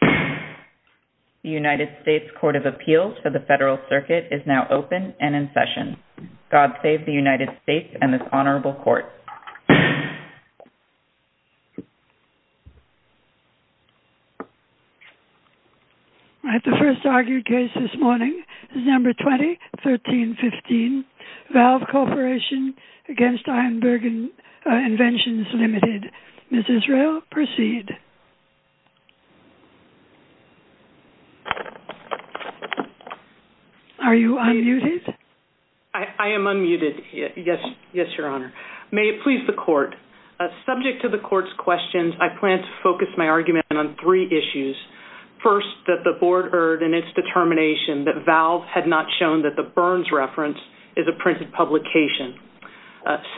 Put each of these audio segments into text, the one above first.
The United States Court of Appeals for the Federal Circuit is now open and in session. God save the United States and this honorable court. The first argued case this morning is number 2013-15, Valve Corporation v. Ironburg Inventions Ltd. Ms. Israel, proceed. Are you unmuted? I am unmuted, yes, your honor. May it please the court. Subject to the court's questions, I plan to focus my argument on three issues. First, that the board erred in its determination that Valve had not shown that the Burns reference is a printed publication.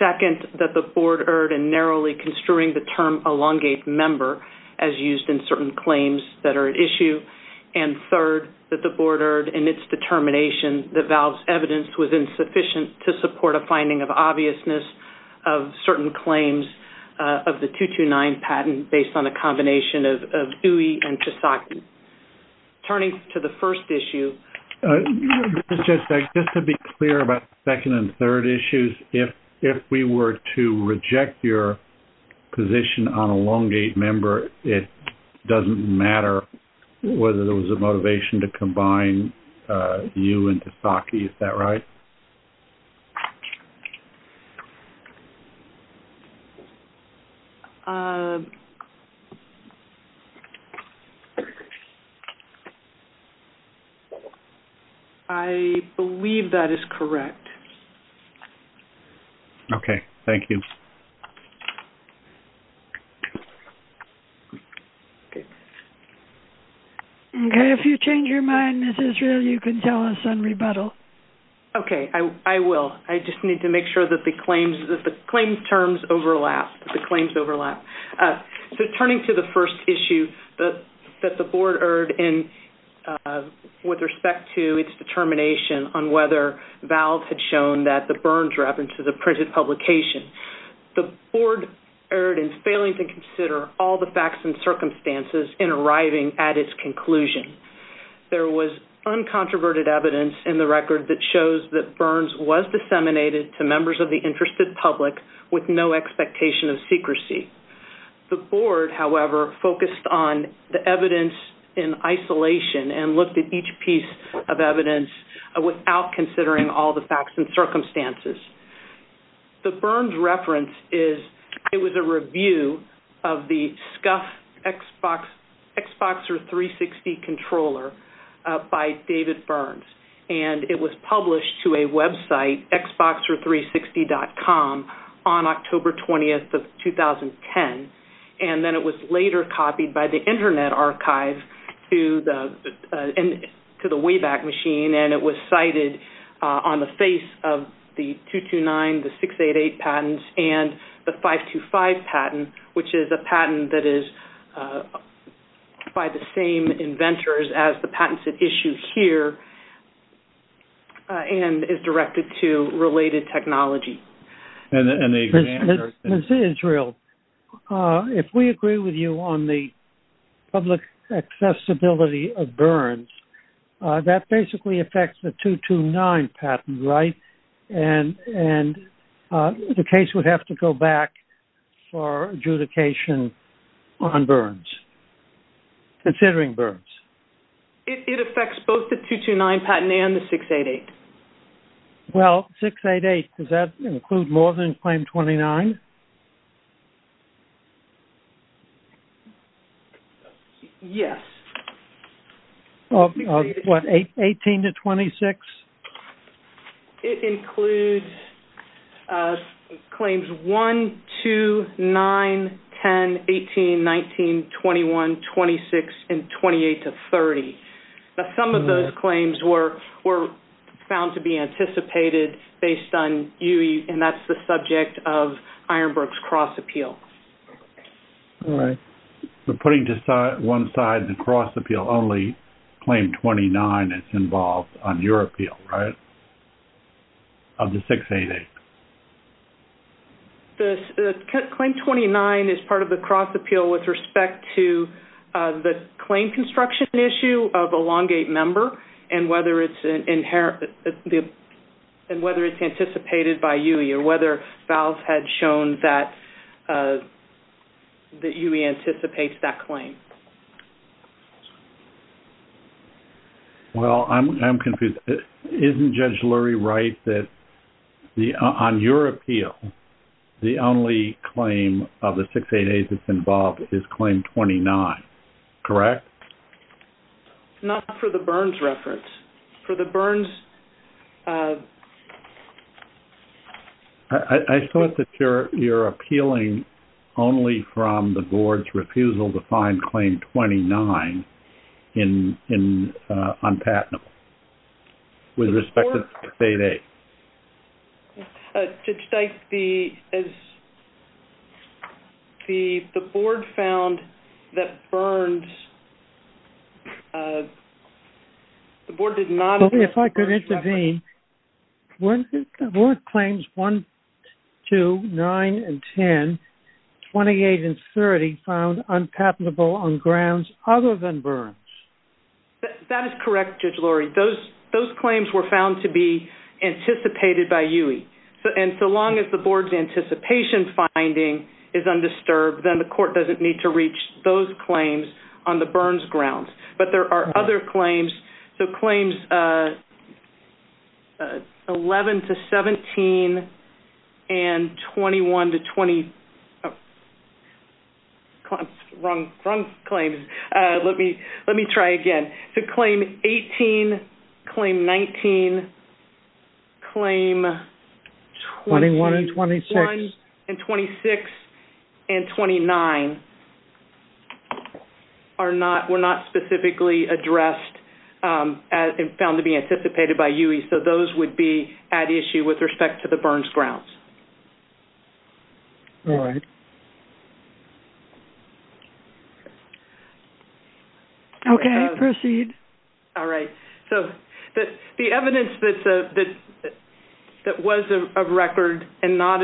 Second, that the board erred in narrowly construing the term elongate member as used in certain claims that are at issue. And third, that the board erred in its determination that Valve's evidence was insufficient to support a finding of obviousness of certain claims of the 229 patent based on a combination of Dewey and Tshisaki. Turning to the first issue. Just to be clear about second and third issues, if we were to reject your position on elongate member, it doesn't matter whether there was a motivation to combine you and Tshisaki, is that right? I believe that is correct. Okay, thank you. Okay, if you change your mind, Ms. Israel, you can tell us on rebuttal. Okay, I will. I just need to make sure that the claims terms overlap, the claims overlap. Turning to the first issue that the board erred in with respect to its determination on whether Valve had shown that the Burns reference is a printed publication. The board erred in failing to consider all the facts and circumstances in arriving at its conclusion. There was uncontroverted evidence in the record that shows that Burns was disseminated to members of the interested public with no expectation of secrecy. The board, however, focused on the evidence in isolation and looked at each piece of evidence without considering all the facts and circumstances. The Burns reference was a review of the SCUF Xbox 360 controller by David Burns. It was published to a website, Xbox360.com, on October 20, 2010. Then it was later copied by the Internet Archive to the Wayback Machine. It was cited on the face of the 229, the 688 patents, and the 525 patent, which is a patent that is by the same inventors as the patents at issue here and is directed to related technology. Mr. Israel, if we agree with you on the public accessibility of Burns, that basically affects the 229 patent, right? And the case would have to go back for adjudication on Burns, considering Burns. It affects both the 229 patent and the 688. Well, 688, does that include more than claim 29? Yes. Of what, 18 to 26? It includes claims 1, 2, 9, 10, 18, 19, 21, 26, and 28 to 30. Now, some of those claims were found to be anticipated based on UE, and that's the subject of Ironbrook's cross-appeal. All right. So putting to one side the cross-appeal only, claim 29 is involved on your appeal, right, of the 688? Claim 29 is part of the cross-appeal with respect to the claim construction issue of a Longgate member and whether it's anticipated by UE or whether VALS had shown that UE anticipates that claim. Well, I'm confused. Isn't Judge Lurie right that on your appeal, the only claim of the 688 that's involved is claim 29, correct? Not for the Burns reference. I thought that you're appealing only from the board's refusal to find claim 29 on patentable with respect to 688. Judge Dyke, the board found that Burns – the board did not – If I could intervene. The board claims 1, 2, 9, and 10, 28, and 30 found unpatentable on grounds other than Burns. That is correct, Judge Lurie. Those claims were found to be anticipated by UE. And so long as the board's anticipation finding is undisturbed, then the court doesn't need to reach those claims on the Burns grounds. So claims 11 to 17 and 21 to 20 – wrong claims. Let me try again. To claim 18, claim 19, claim 21 and 26 and 29 were not specifically addressed and found to be anticipated by UE. So those would be at issue with respect to the Burns grounds. All right. Okay. Proceed. All right. So the evidence that was a record and not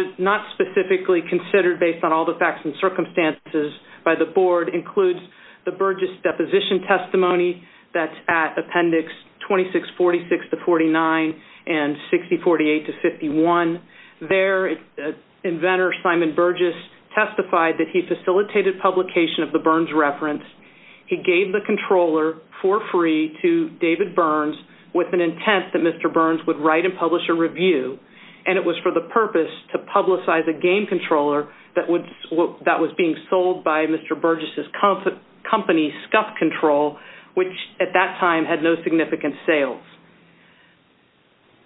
specifically considered based on all the facts and circumstances by the board includes the Burgess deposition testimony that's at appendix 2646 to 49 and 6048 to 51. There, inventor Simon Burgess testified that he facilitated publication of the Burns reference. He gave the controller for free to David Burns with an intent that Mr. Burns would write and publish a review. And it was for the purpose to publicize a game controller that was being sold by Mr. Burgess' company, Scuff Control, which at that time had no significant sales.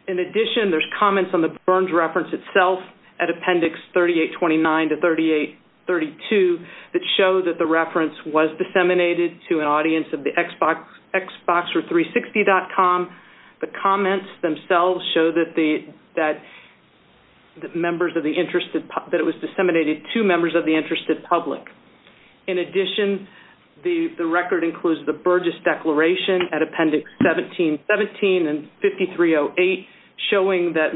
In addition, there's comments on the Burns reference itself at appendix 3829 to 3832 that show that the reference was disseminated to an audience of the Xbox or 360.com. The comments themselves show that it was disseminated to members of the interested public. In addition, the record includes the Burgess declaration at appendix 1717 and 5308, showing that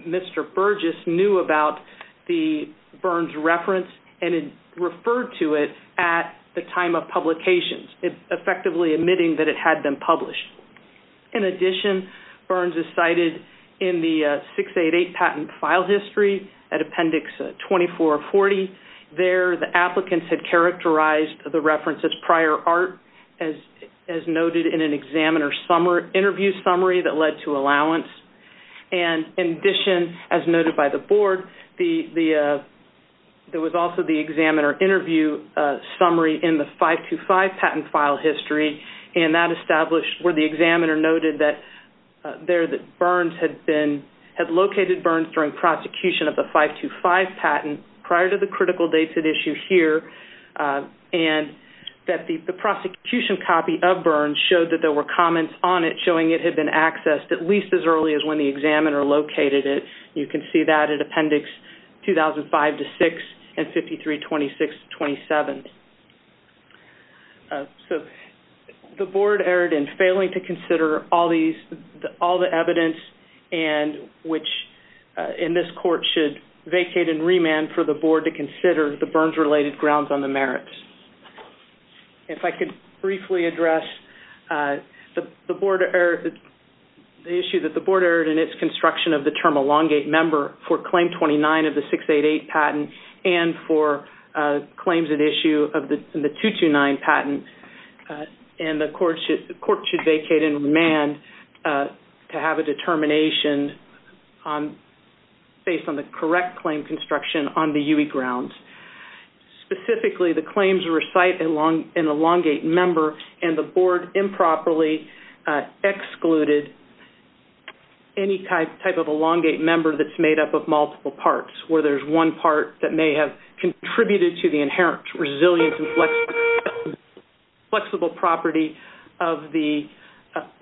Mr. Burgess knew about the Burns reference and had referred to it at the time of publication, effectively admitting that it had been published. In addition, Burns is cited in the 688 patent file history at appendix 2440. There, the applicants had characterized the reference as prior art, as noted in an examiner interview summary that led to allowance. And in addition, as noted by the board, there was also the examiner interview summary in the 525 patent file history, and that established where the examiner noted that Burns had been, had located Burns during prosecution of the 525 patent prior to the critical dates at issue here, and that the prosecution copy of Burns showed that there were comments on it showing it had been accessed at least as early as when the examiner located it. You can see that at appendix 2005 to 6 and 5326 to 27. So the board erred in failing to consider all the evidence and which in this court should vacate and remand for the board to consider the Burns-related grounds on the merits. If I could briefly address the issue that the board erred in its construction of the term for claim 29 of the 688 patent and for claims at issue of the 229 patent, and the court should vacate and remand to have a determination based on the correct claim construction on the UE grounds. Specifically, the claims recite an elongate member, and the board improperly excluded any type of elongate member that's made up of multiple parts where there's one part that may have contributed to the inherent resilience and flexible property of the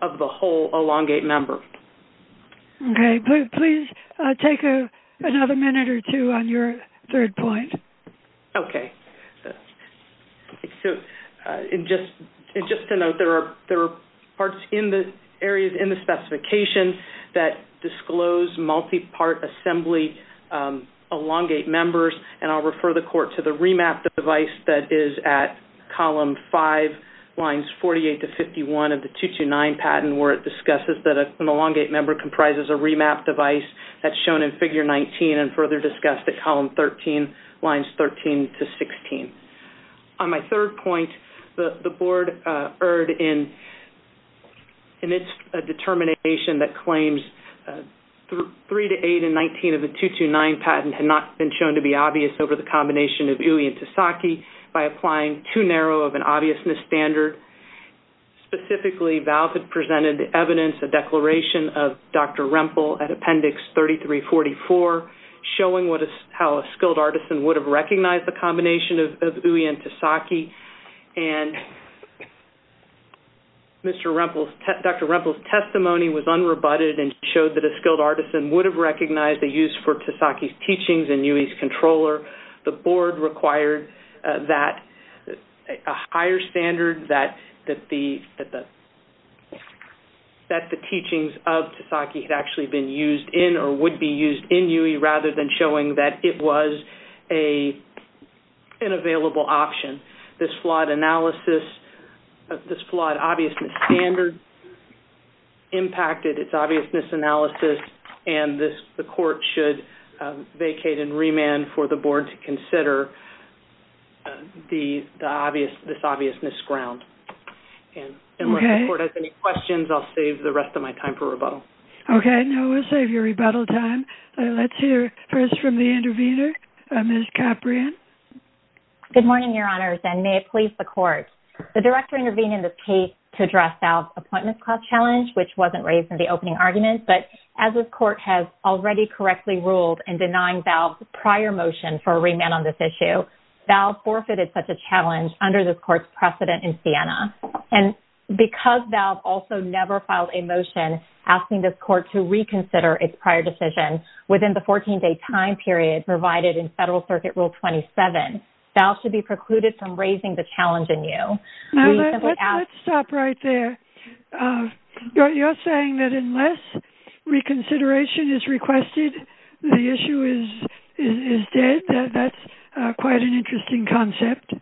whole elongate member. Okay. Please take another minute or two on your third point. Okay. And just to note, there are parts in the areas in the specification that disclose multi-part assembly elongate members, and I'll refer the court to the remap device that is at column 5, lines 48 to 51 of the 229 patent where it discusses that an elongate member comprises a remap device that's shown in figure 19 and further discussed at column 13, lines 13 to 16. On my third point, the board erred in its determination that claims 3 to 8 and 19 of the 229 patent had not been shown to be obvious over the combination of UE and TSAKI by applying too narrow of an obviousness standard. Specifically, Valve had presented evidence, a declaration of Dr. Rempel at Appendix 3344, showing how a skilled artisan would have recognized the combination of UE and TSAKI, and Dr. Rempel's testimony was unrebutted and showed that a skilled artisan would have recognized the use for TSAKI's teachings in UE's controller. The board required a higher standard that the teachings of TSAKI had actually been used in or would be used in UE rather than showing that it was an available option. This flawed obviousness standard impacted its obviousness analysis, and the court should vacate and remand for the board to consider this obviousness ground. And if the court has any questions, I'll save the rest of my time for rebuttal. Okay, no, we'll save your rebuttal time. Let's hear first from the intervener, Ms. Caprian. Good morning, Your Honors, and may it please the court. The director intervened in the case to address Valve's appointment class challenge, which wasn't raised in the opening argument. But as this court has already correctly ruled in denying Valve's prior motion for a remand on this issue, Valve forfeited such a challenge under this court's precedent in Siena. And because Valve also never filed a motion asking this court to reconsider its prior decision within the 14-day time period provided in Federal Circuit Rule 27, Valve should be precluded from raising the challenge anew. Let's stop right there. You're saying that unless reconsideration is requested, the issue is dead? That's quite an interesting concept.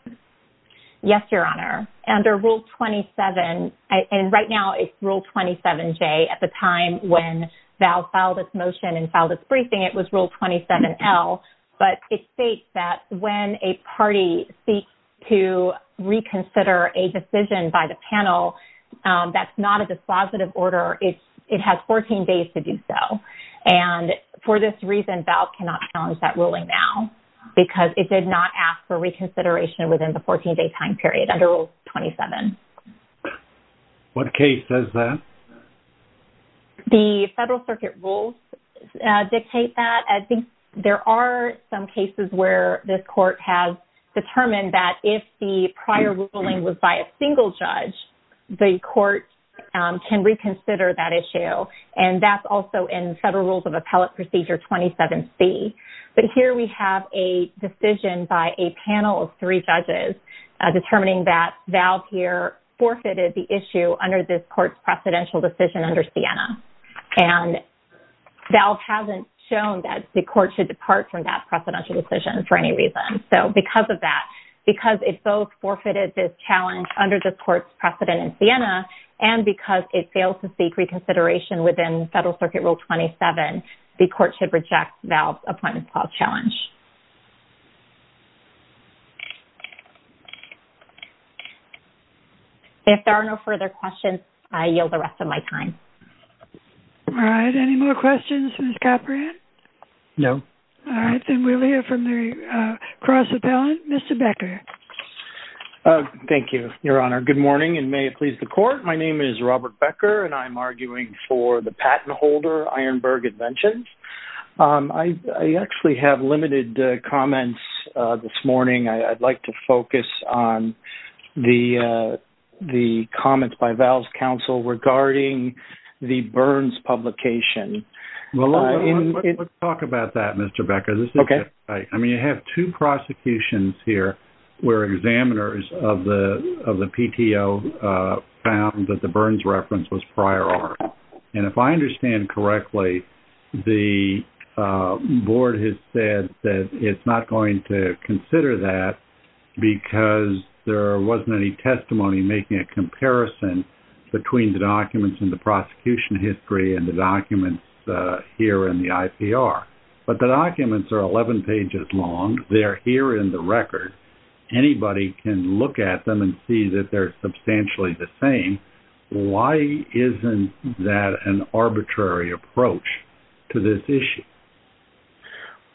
Yes, Your Honor. Under Rule 27, and right now it's Rule 27J at the time when Valve filed its motion and filed its briefing, it was Rule 27L. But it states that when a party seeks to reconsider a decision by the panel that's not a dispositive order, it has 14 days to do so. And for this reason, Valve cannot challenge that ruling now because it did not ask for reconsideration within the 14-day time period under Rule 27. What case says that? The Federal Circuit Rules dictate that. I think there are some cases where this court has determined that if the prior ruling was by a single judge, the court can reconsider that issue. And that's also in Federal Rules of Appellate Procedure 27C. But here we have a decision by a panel of three judges determining that Valve here forfeited the issue under this court's precedential decision under Siena. And Valve hasn't shown that the court should depart from that precedential decision for any reason. So because of that, because it both forfeited this challenge under this court's precedent in Siena and because it failed to seek reconsideration within Federal Circuit Rule 27, the court should reject Valve's Appointment Clause challenge. If there are no further questions, I yield the rest of my time. All right. Any more questions, Ms. Caprian? No. All right. Then we'll hear from the cross-appellant, Mr. Becker. Thank you, Your Honor. Good morning, and may it please the Court. My name is Robert Becker, and I'm arguing for the patent holder, Ironburg Inventions. I actually have limited comments this morning. I'd like to focus on the comments by Valve's counsel regarding the Burns publication. Well, let's talk about that, Mr. Becker. Okay. I mean, you have two prosecutions here where examiners of the PTO found that the Burns reference was prior art. And if I understand correctly, the Board has said that it's not going to consider that because there wasn't any testimony making a comparison between the documents in the prosecution history and the documents here in the IPR. But the documents are 11 pages long. They're here in the record. Anybody can look at them and see that they're substantially the same. Why isn't that an arbitrary approach to this issue?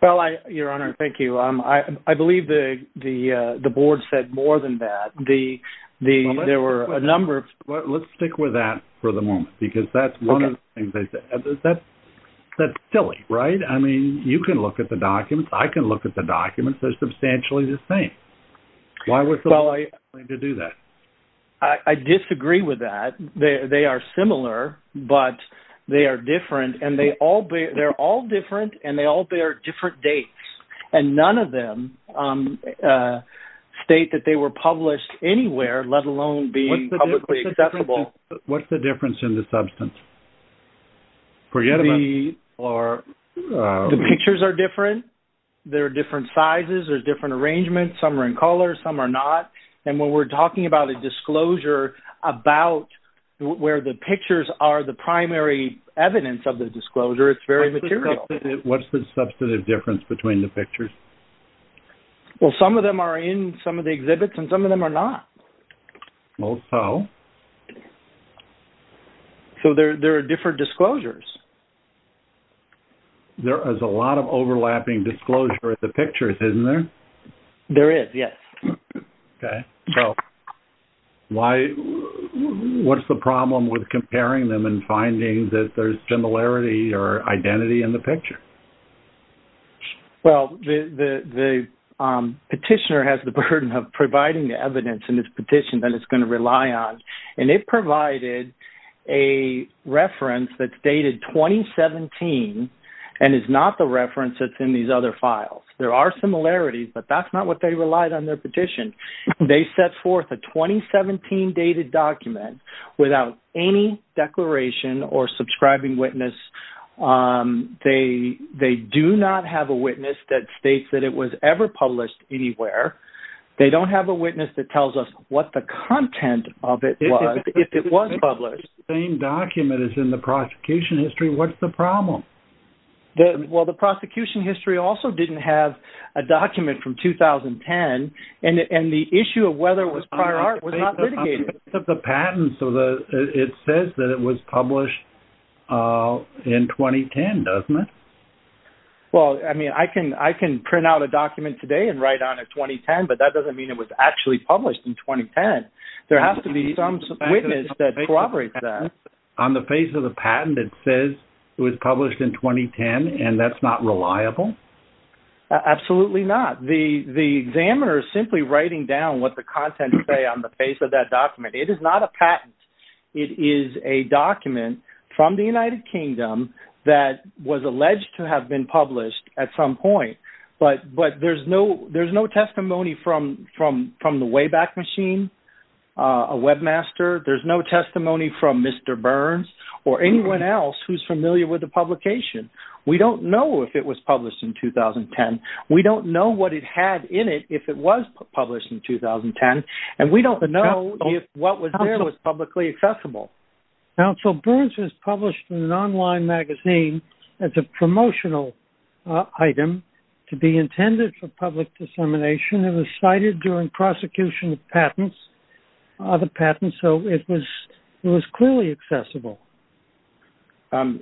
Well, Your Honor, thank you. I believe the Board said more than that. There were a number of... Well, let's stick with that for the moment because that's one of the things they said. That's silly, right? I mean, you can look at the documents. I can look at the documents. They're substantially the same. Why would somebody do that? I disagree with that. They are similar, but they are different. And they're all different, and they all bear different dates. And none of them state that they were published anywhere, let alone being publicly accessible. What's the difference in the substance? The pictures are different. There are different sizes. There's different arrangements. Some are in color. Some are not. And when we're talking about a disclosure about where the pictures are the primary evidence of the disclosure, it's very material. What's the substantive difference between the pictures? Well, some of them are in some of the exhibits, and some of them are not. Oh, so? So there are different disclosures. There is a lot of overlapping disclosure at the pictures, isn't there? There is, yes. Okay. So what's the problem with comparing them and finding that there's similarity or identity in the picture? Well, the petitioner has the burden of providing the evidence in this petition that it's going to rely on. And it provided a reference that's dated 2017 and is not the reference that's in these other files. There are similarities, but that's not what they relied on in their petition. They set forth a 2017 dated document without any declaration or subscribing witness. They do not have a witness that states that it was ever published anywhere. They don't have a witness that tells us what the content of it was if it was published. It's the same document as in the prosecution history. What's the problem? Well, the prosecution history also didn't have a document from 2010, and the issue of whether it was prior art was not litigated. On the face of the patent, it says that it was published in 2010, doesn't it? Well, I mean, I can print out a document today and write on it 2010, but that doesn't mean it was actually published in 2010. There has to be some witness that corroborates that. On the face of the patent, it says it was published in 2010, and that's not reliable? Absolutely not. The examiner is simply writing down what the contents say on the face of that document. It is not a patent. It is a document from the United Kingdom that was alleged to have been published at some point, but there's no testimony from the Wayback Machine, a webmaster. There's no testimony from Mr. Burns or anyone else who's familiar with the publication. We don't know if it was published in 2010. We don't know what it had in it if it was published in 2010, and we don't know if what was there was publicly accessible. Counsel, Burns was published in an online magazine as a promotional item to be intended for public dissemination. It was cited during prosecution of patents, so it was clearly accessible.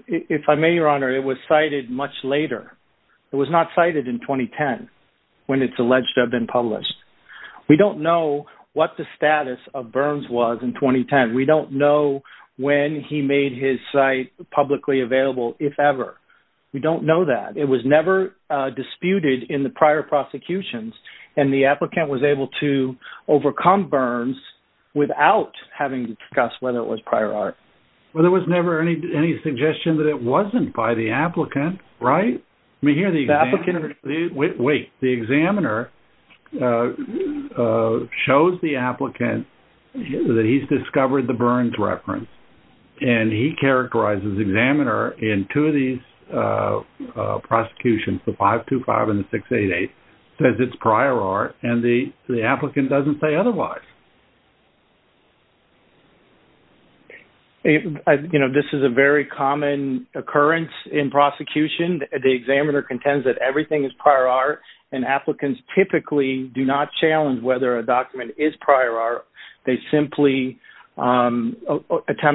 If I may, Your Honor, it was cited much later. It was not cited in 2010 when it's alleged to have been published. We don't know what the status of Burns was in 2010. We don't know when he made his site publicly available, if ever. We don't know that. It was never disputed in the prior prosecutions, and the applicant was able to overcome Burns without having to discuss whether it was prior art. Well, there was never any suggestion that it wasn't by the applicant, right? Wait, the examiner shows the applicant that he's discovered the Burns reference, and he characterizes the examiner in two of these prosecutions, the 525 and the 688, says it's prior art, and the applicant doesn't say otherwise. You know, this is a very common occurrence in prosecution. The examiner contends that everything is prior art, and applicants typically do not challenge whether a document is prior art. They simply attempt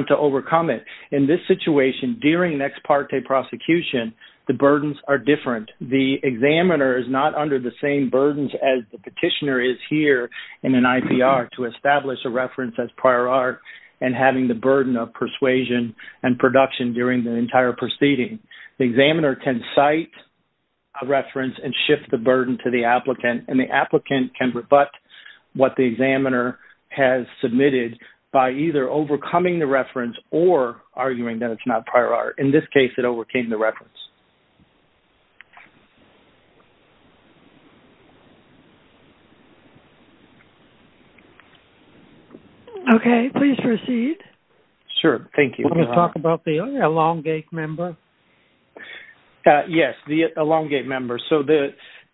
to overcome it. In this situation, during an ex parte prosecution, the burdens are different. The examiner is not under the same burdens as the petitioner is here in an IPR to establish a reference as prior art and having the burden of persuasion and production during the entire proceeding. The examiner can cite a reference and shift the burden to the applicant, and the applicant can rebut what the examiner has submitted by either overcoming the reference or arguing that it's not prior art. In this case, it overcame the reference. Okay, please proceed. Sure, thank you. Let me talk about the elongate member. Yes, the elongate member. So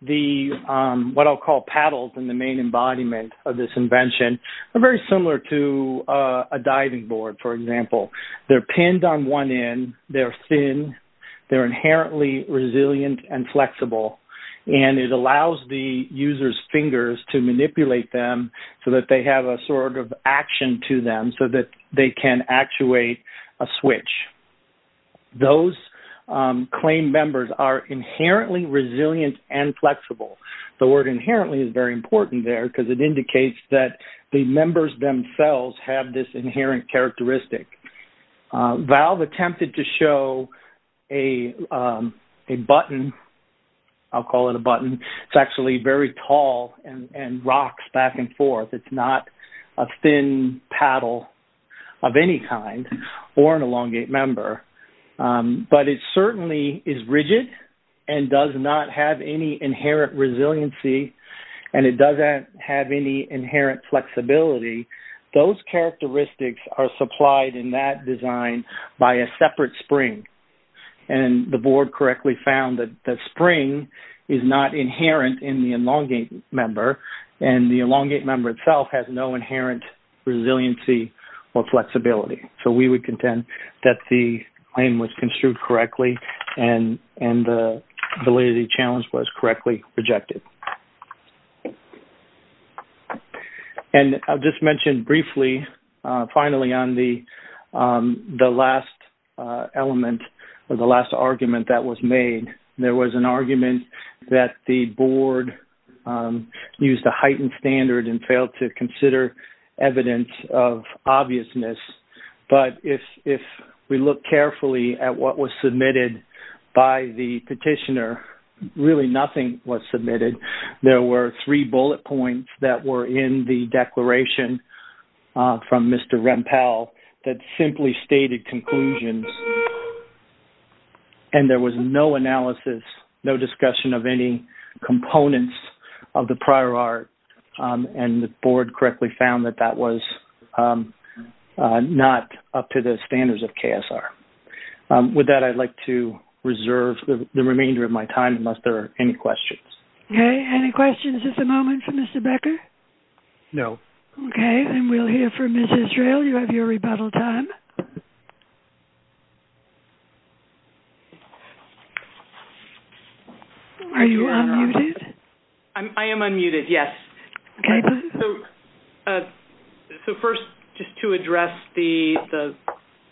what I'll call paddles in the main embodiment of this invention are very similar to a diving board, for example. They're pinned on one end. They're thin. They're inherently resilient and flexible, and it allows the user's fingers to manipulate them so that they have a sort of action to them so that they can actuate a switch. Those claim members are inherently resilient and flexible. The word inherently is very important there because it indicates that the members themselves have this inherent characteristic. Valve attempted to show a button. I'll call it a button. It's actually very tall and rocks back and forth. It's not a thin paddle of any kind or an elongate member, but it certainly is rigid and does not have any inherent resiliency, and it doesn't have any inherent flexibility. Those characteristics are supplied in that design by a separate spring, and the board correctly found that the spring is not inherent in the elongate member, and the elongate member itself has no inherent resiliency or flexibility. So we would contend that the claim was construed correctly and the validity challenge was correctly projected. I'll just mention briefly, finally, on the last element or the last argument that was made. There was an argument that the board used a heightened standard and failed to consider evidence of obviousness, but if we look carefully at what was submitted by the petitioner, really nothing was submitted. There were three bullet points that were in the declaration from Mr. Rempel that simply stated conclusions, and there was no analysis, no discussion of any components of the prior art, and the board correctly found that that was not up to the standards of KSR. With that, I'd like to reserve the remainder of my time unless there are any questions. Okay. Any questions at the moment for Mr. Becker? No. Okay. And we'll hear from Ms. Israel. You have your rebuttal time. Are you unmuted? I am unmuted, yes. Okay. So first, just to address the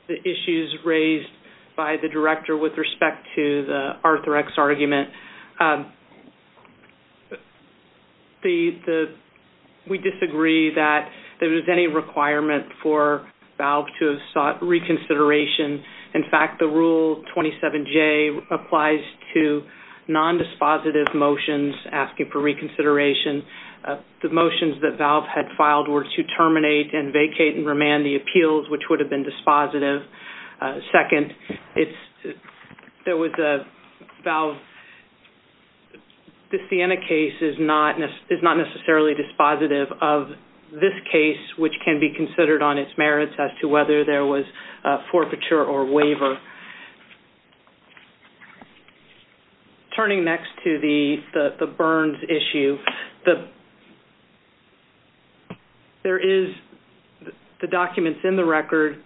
issues raised by the director with respect to the Arthrex argument, we disagree that there was any requirement for VALV to have sought reconsideration. In fact, the Rule 27J applies to nondispositive motions asking for reconsideration. The motions that VALV had filed were to terminate and vacate and remand the appeals, which would have been dispositive. Second, the Sienna case is not necessarily dispositive of this case, which can be considered on its merits as to whether there was a forfeiture or waiver. Turning next to the Burns issue, there is the documents in the record.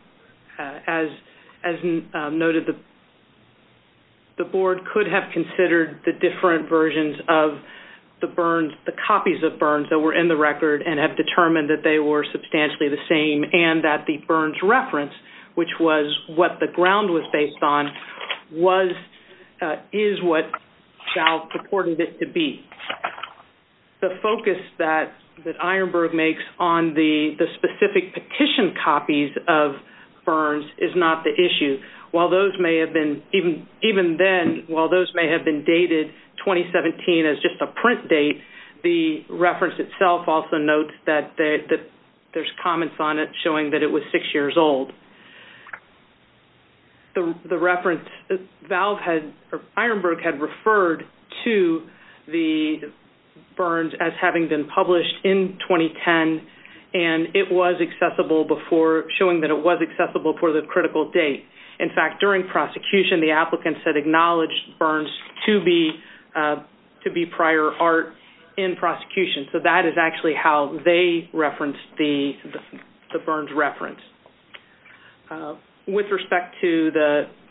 As noted, the board could have considered the different versions of the Burns, the copies of Burns that were in the record and have determined that they were substantially the same and that the Burns reference, which was what the ground was based on, is what VALV purported it to be. The focus that Ironburg makes on the specific petition copies of Burns is not the issue. While those may have been dated 2017 as just a print date, the reference itself also notes that there's comments on it showing that it was six years old. The reference, VALV had, or Ironburg had referred to the Burns as having been published in 2010 and it was accessible before, showing that it was accessible before the critical date. In fact, during prosecution, the applicants had acknowledged Burns to be prior art in prosecution. So that is actually how they referenced the Burns reference. With respect to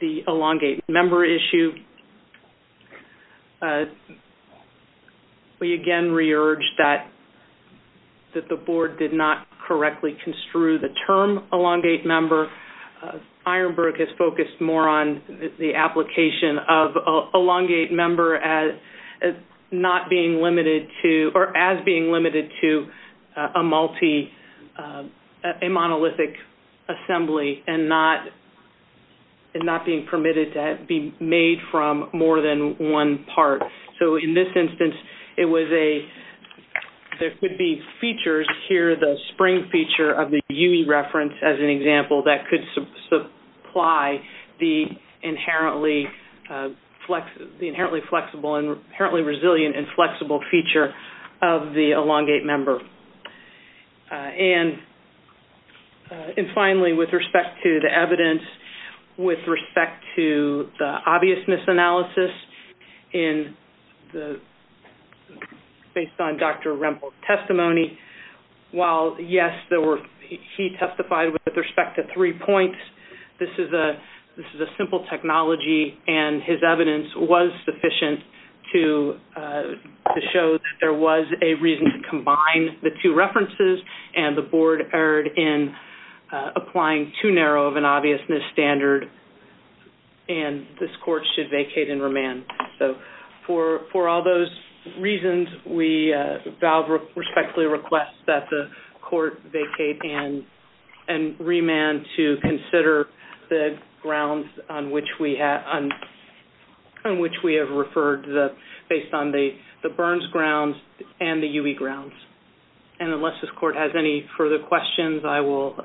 the elongate member issue, we again re-urge that the board did not correctly construe the term elongate member. Ironburg has focused more on the application of elongate member as being limited to a monolithic assembly and not being permitted to be made from more than one part. So in this instance, there could be features here, the spring feature of the UE reference as an example, that could supply the inherently flexible and inherently resilient and flexible feature of the elongate member. And finally, with respect to the evidence, with respect to the obviousness analysis based on Dr. Rempel's testimony, while yes, he testified with respect to three points, this is a simple technology and his evidence was sufficient to show that there was a reason to combine the two references and the board erred in applying too narrow of an obviousness standard and this court should vacate and remand. For all those reasons, we respectfully request that the court vacate and remand to consider the grounds on which we have referred based on the Burns grounds and the UE grounds. And unless this court has any further questions, I will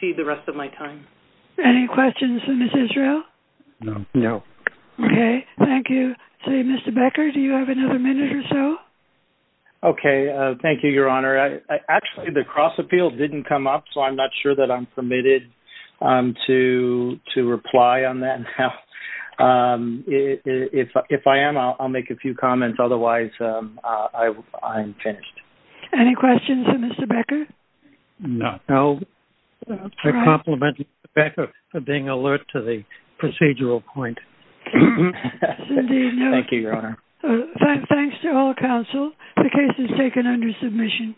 cede the rest of my time. Any questions for Ms. Israel? No. Okay. Thank you. Mr. Becker, do you have another minute or so? Okay. Thank you, Your Honor. Actually, the cross appeal didn't come up, so I'm not sure that I'm permitted to reply on that now. If I am, I'll make a few comments. Otherwise, I'm finished. Any questions for Mr. Becker? No. I compliment Mr. Becker for being alert to the procedural point. Thank you, Your Honor. Thanks to all counsel. The case is taken under submission.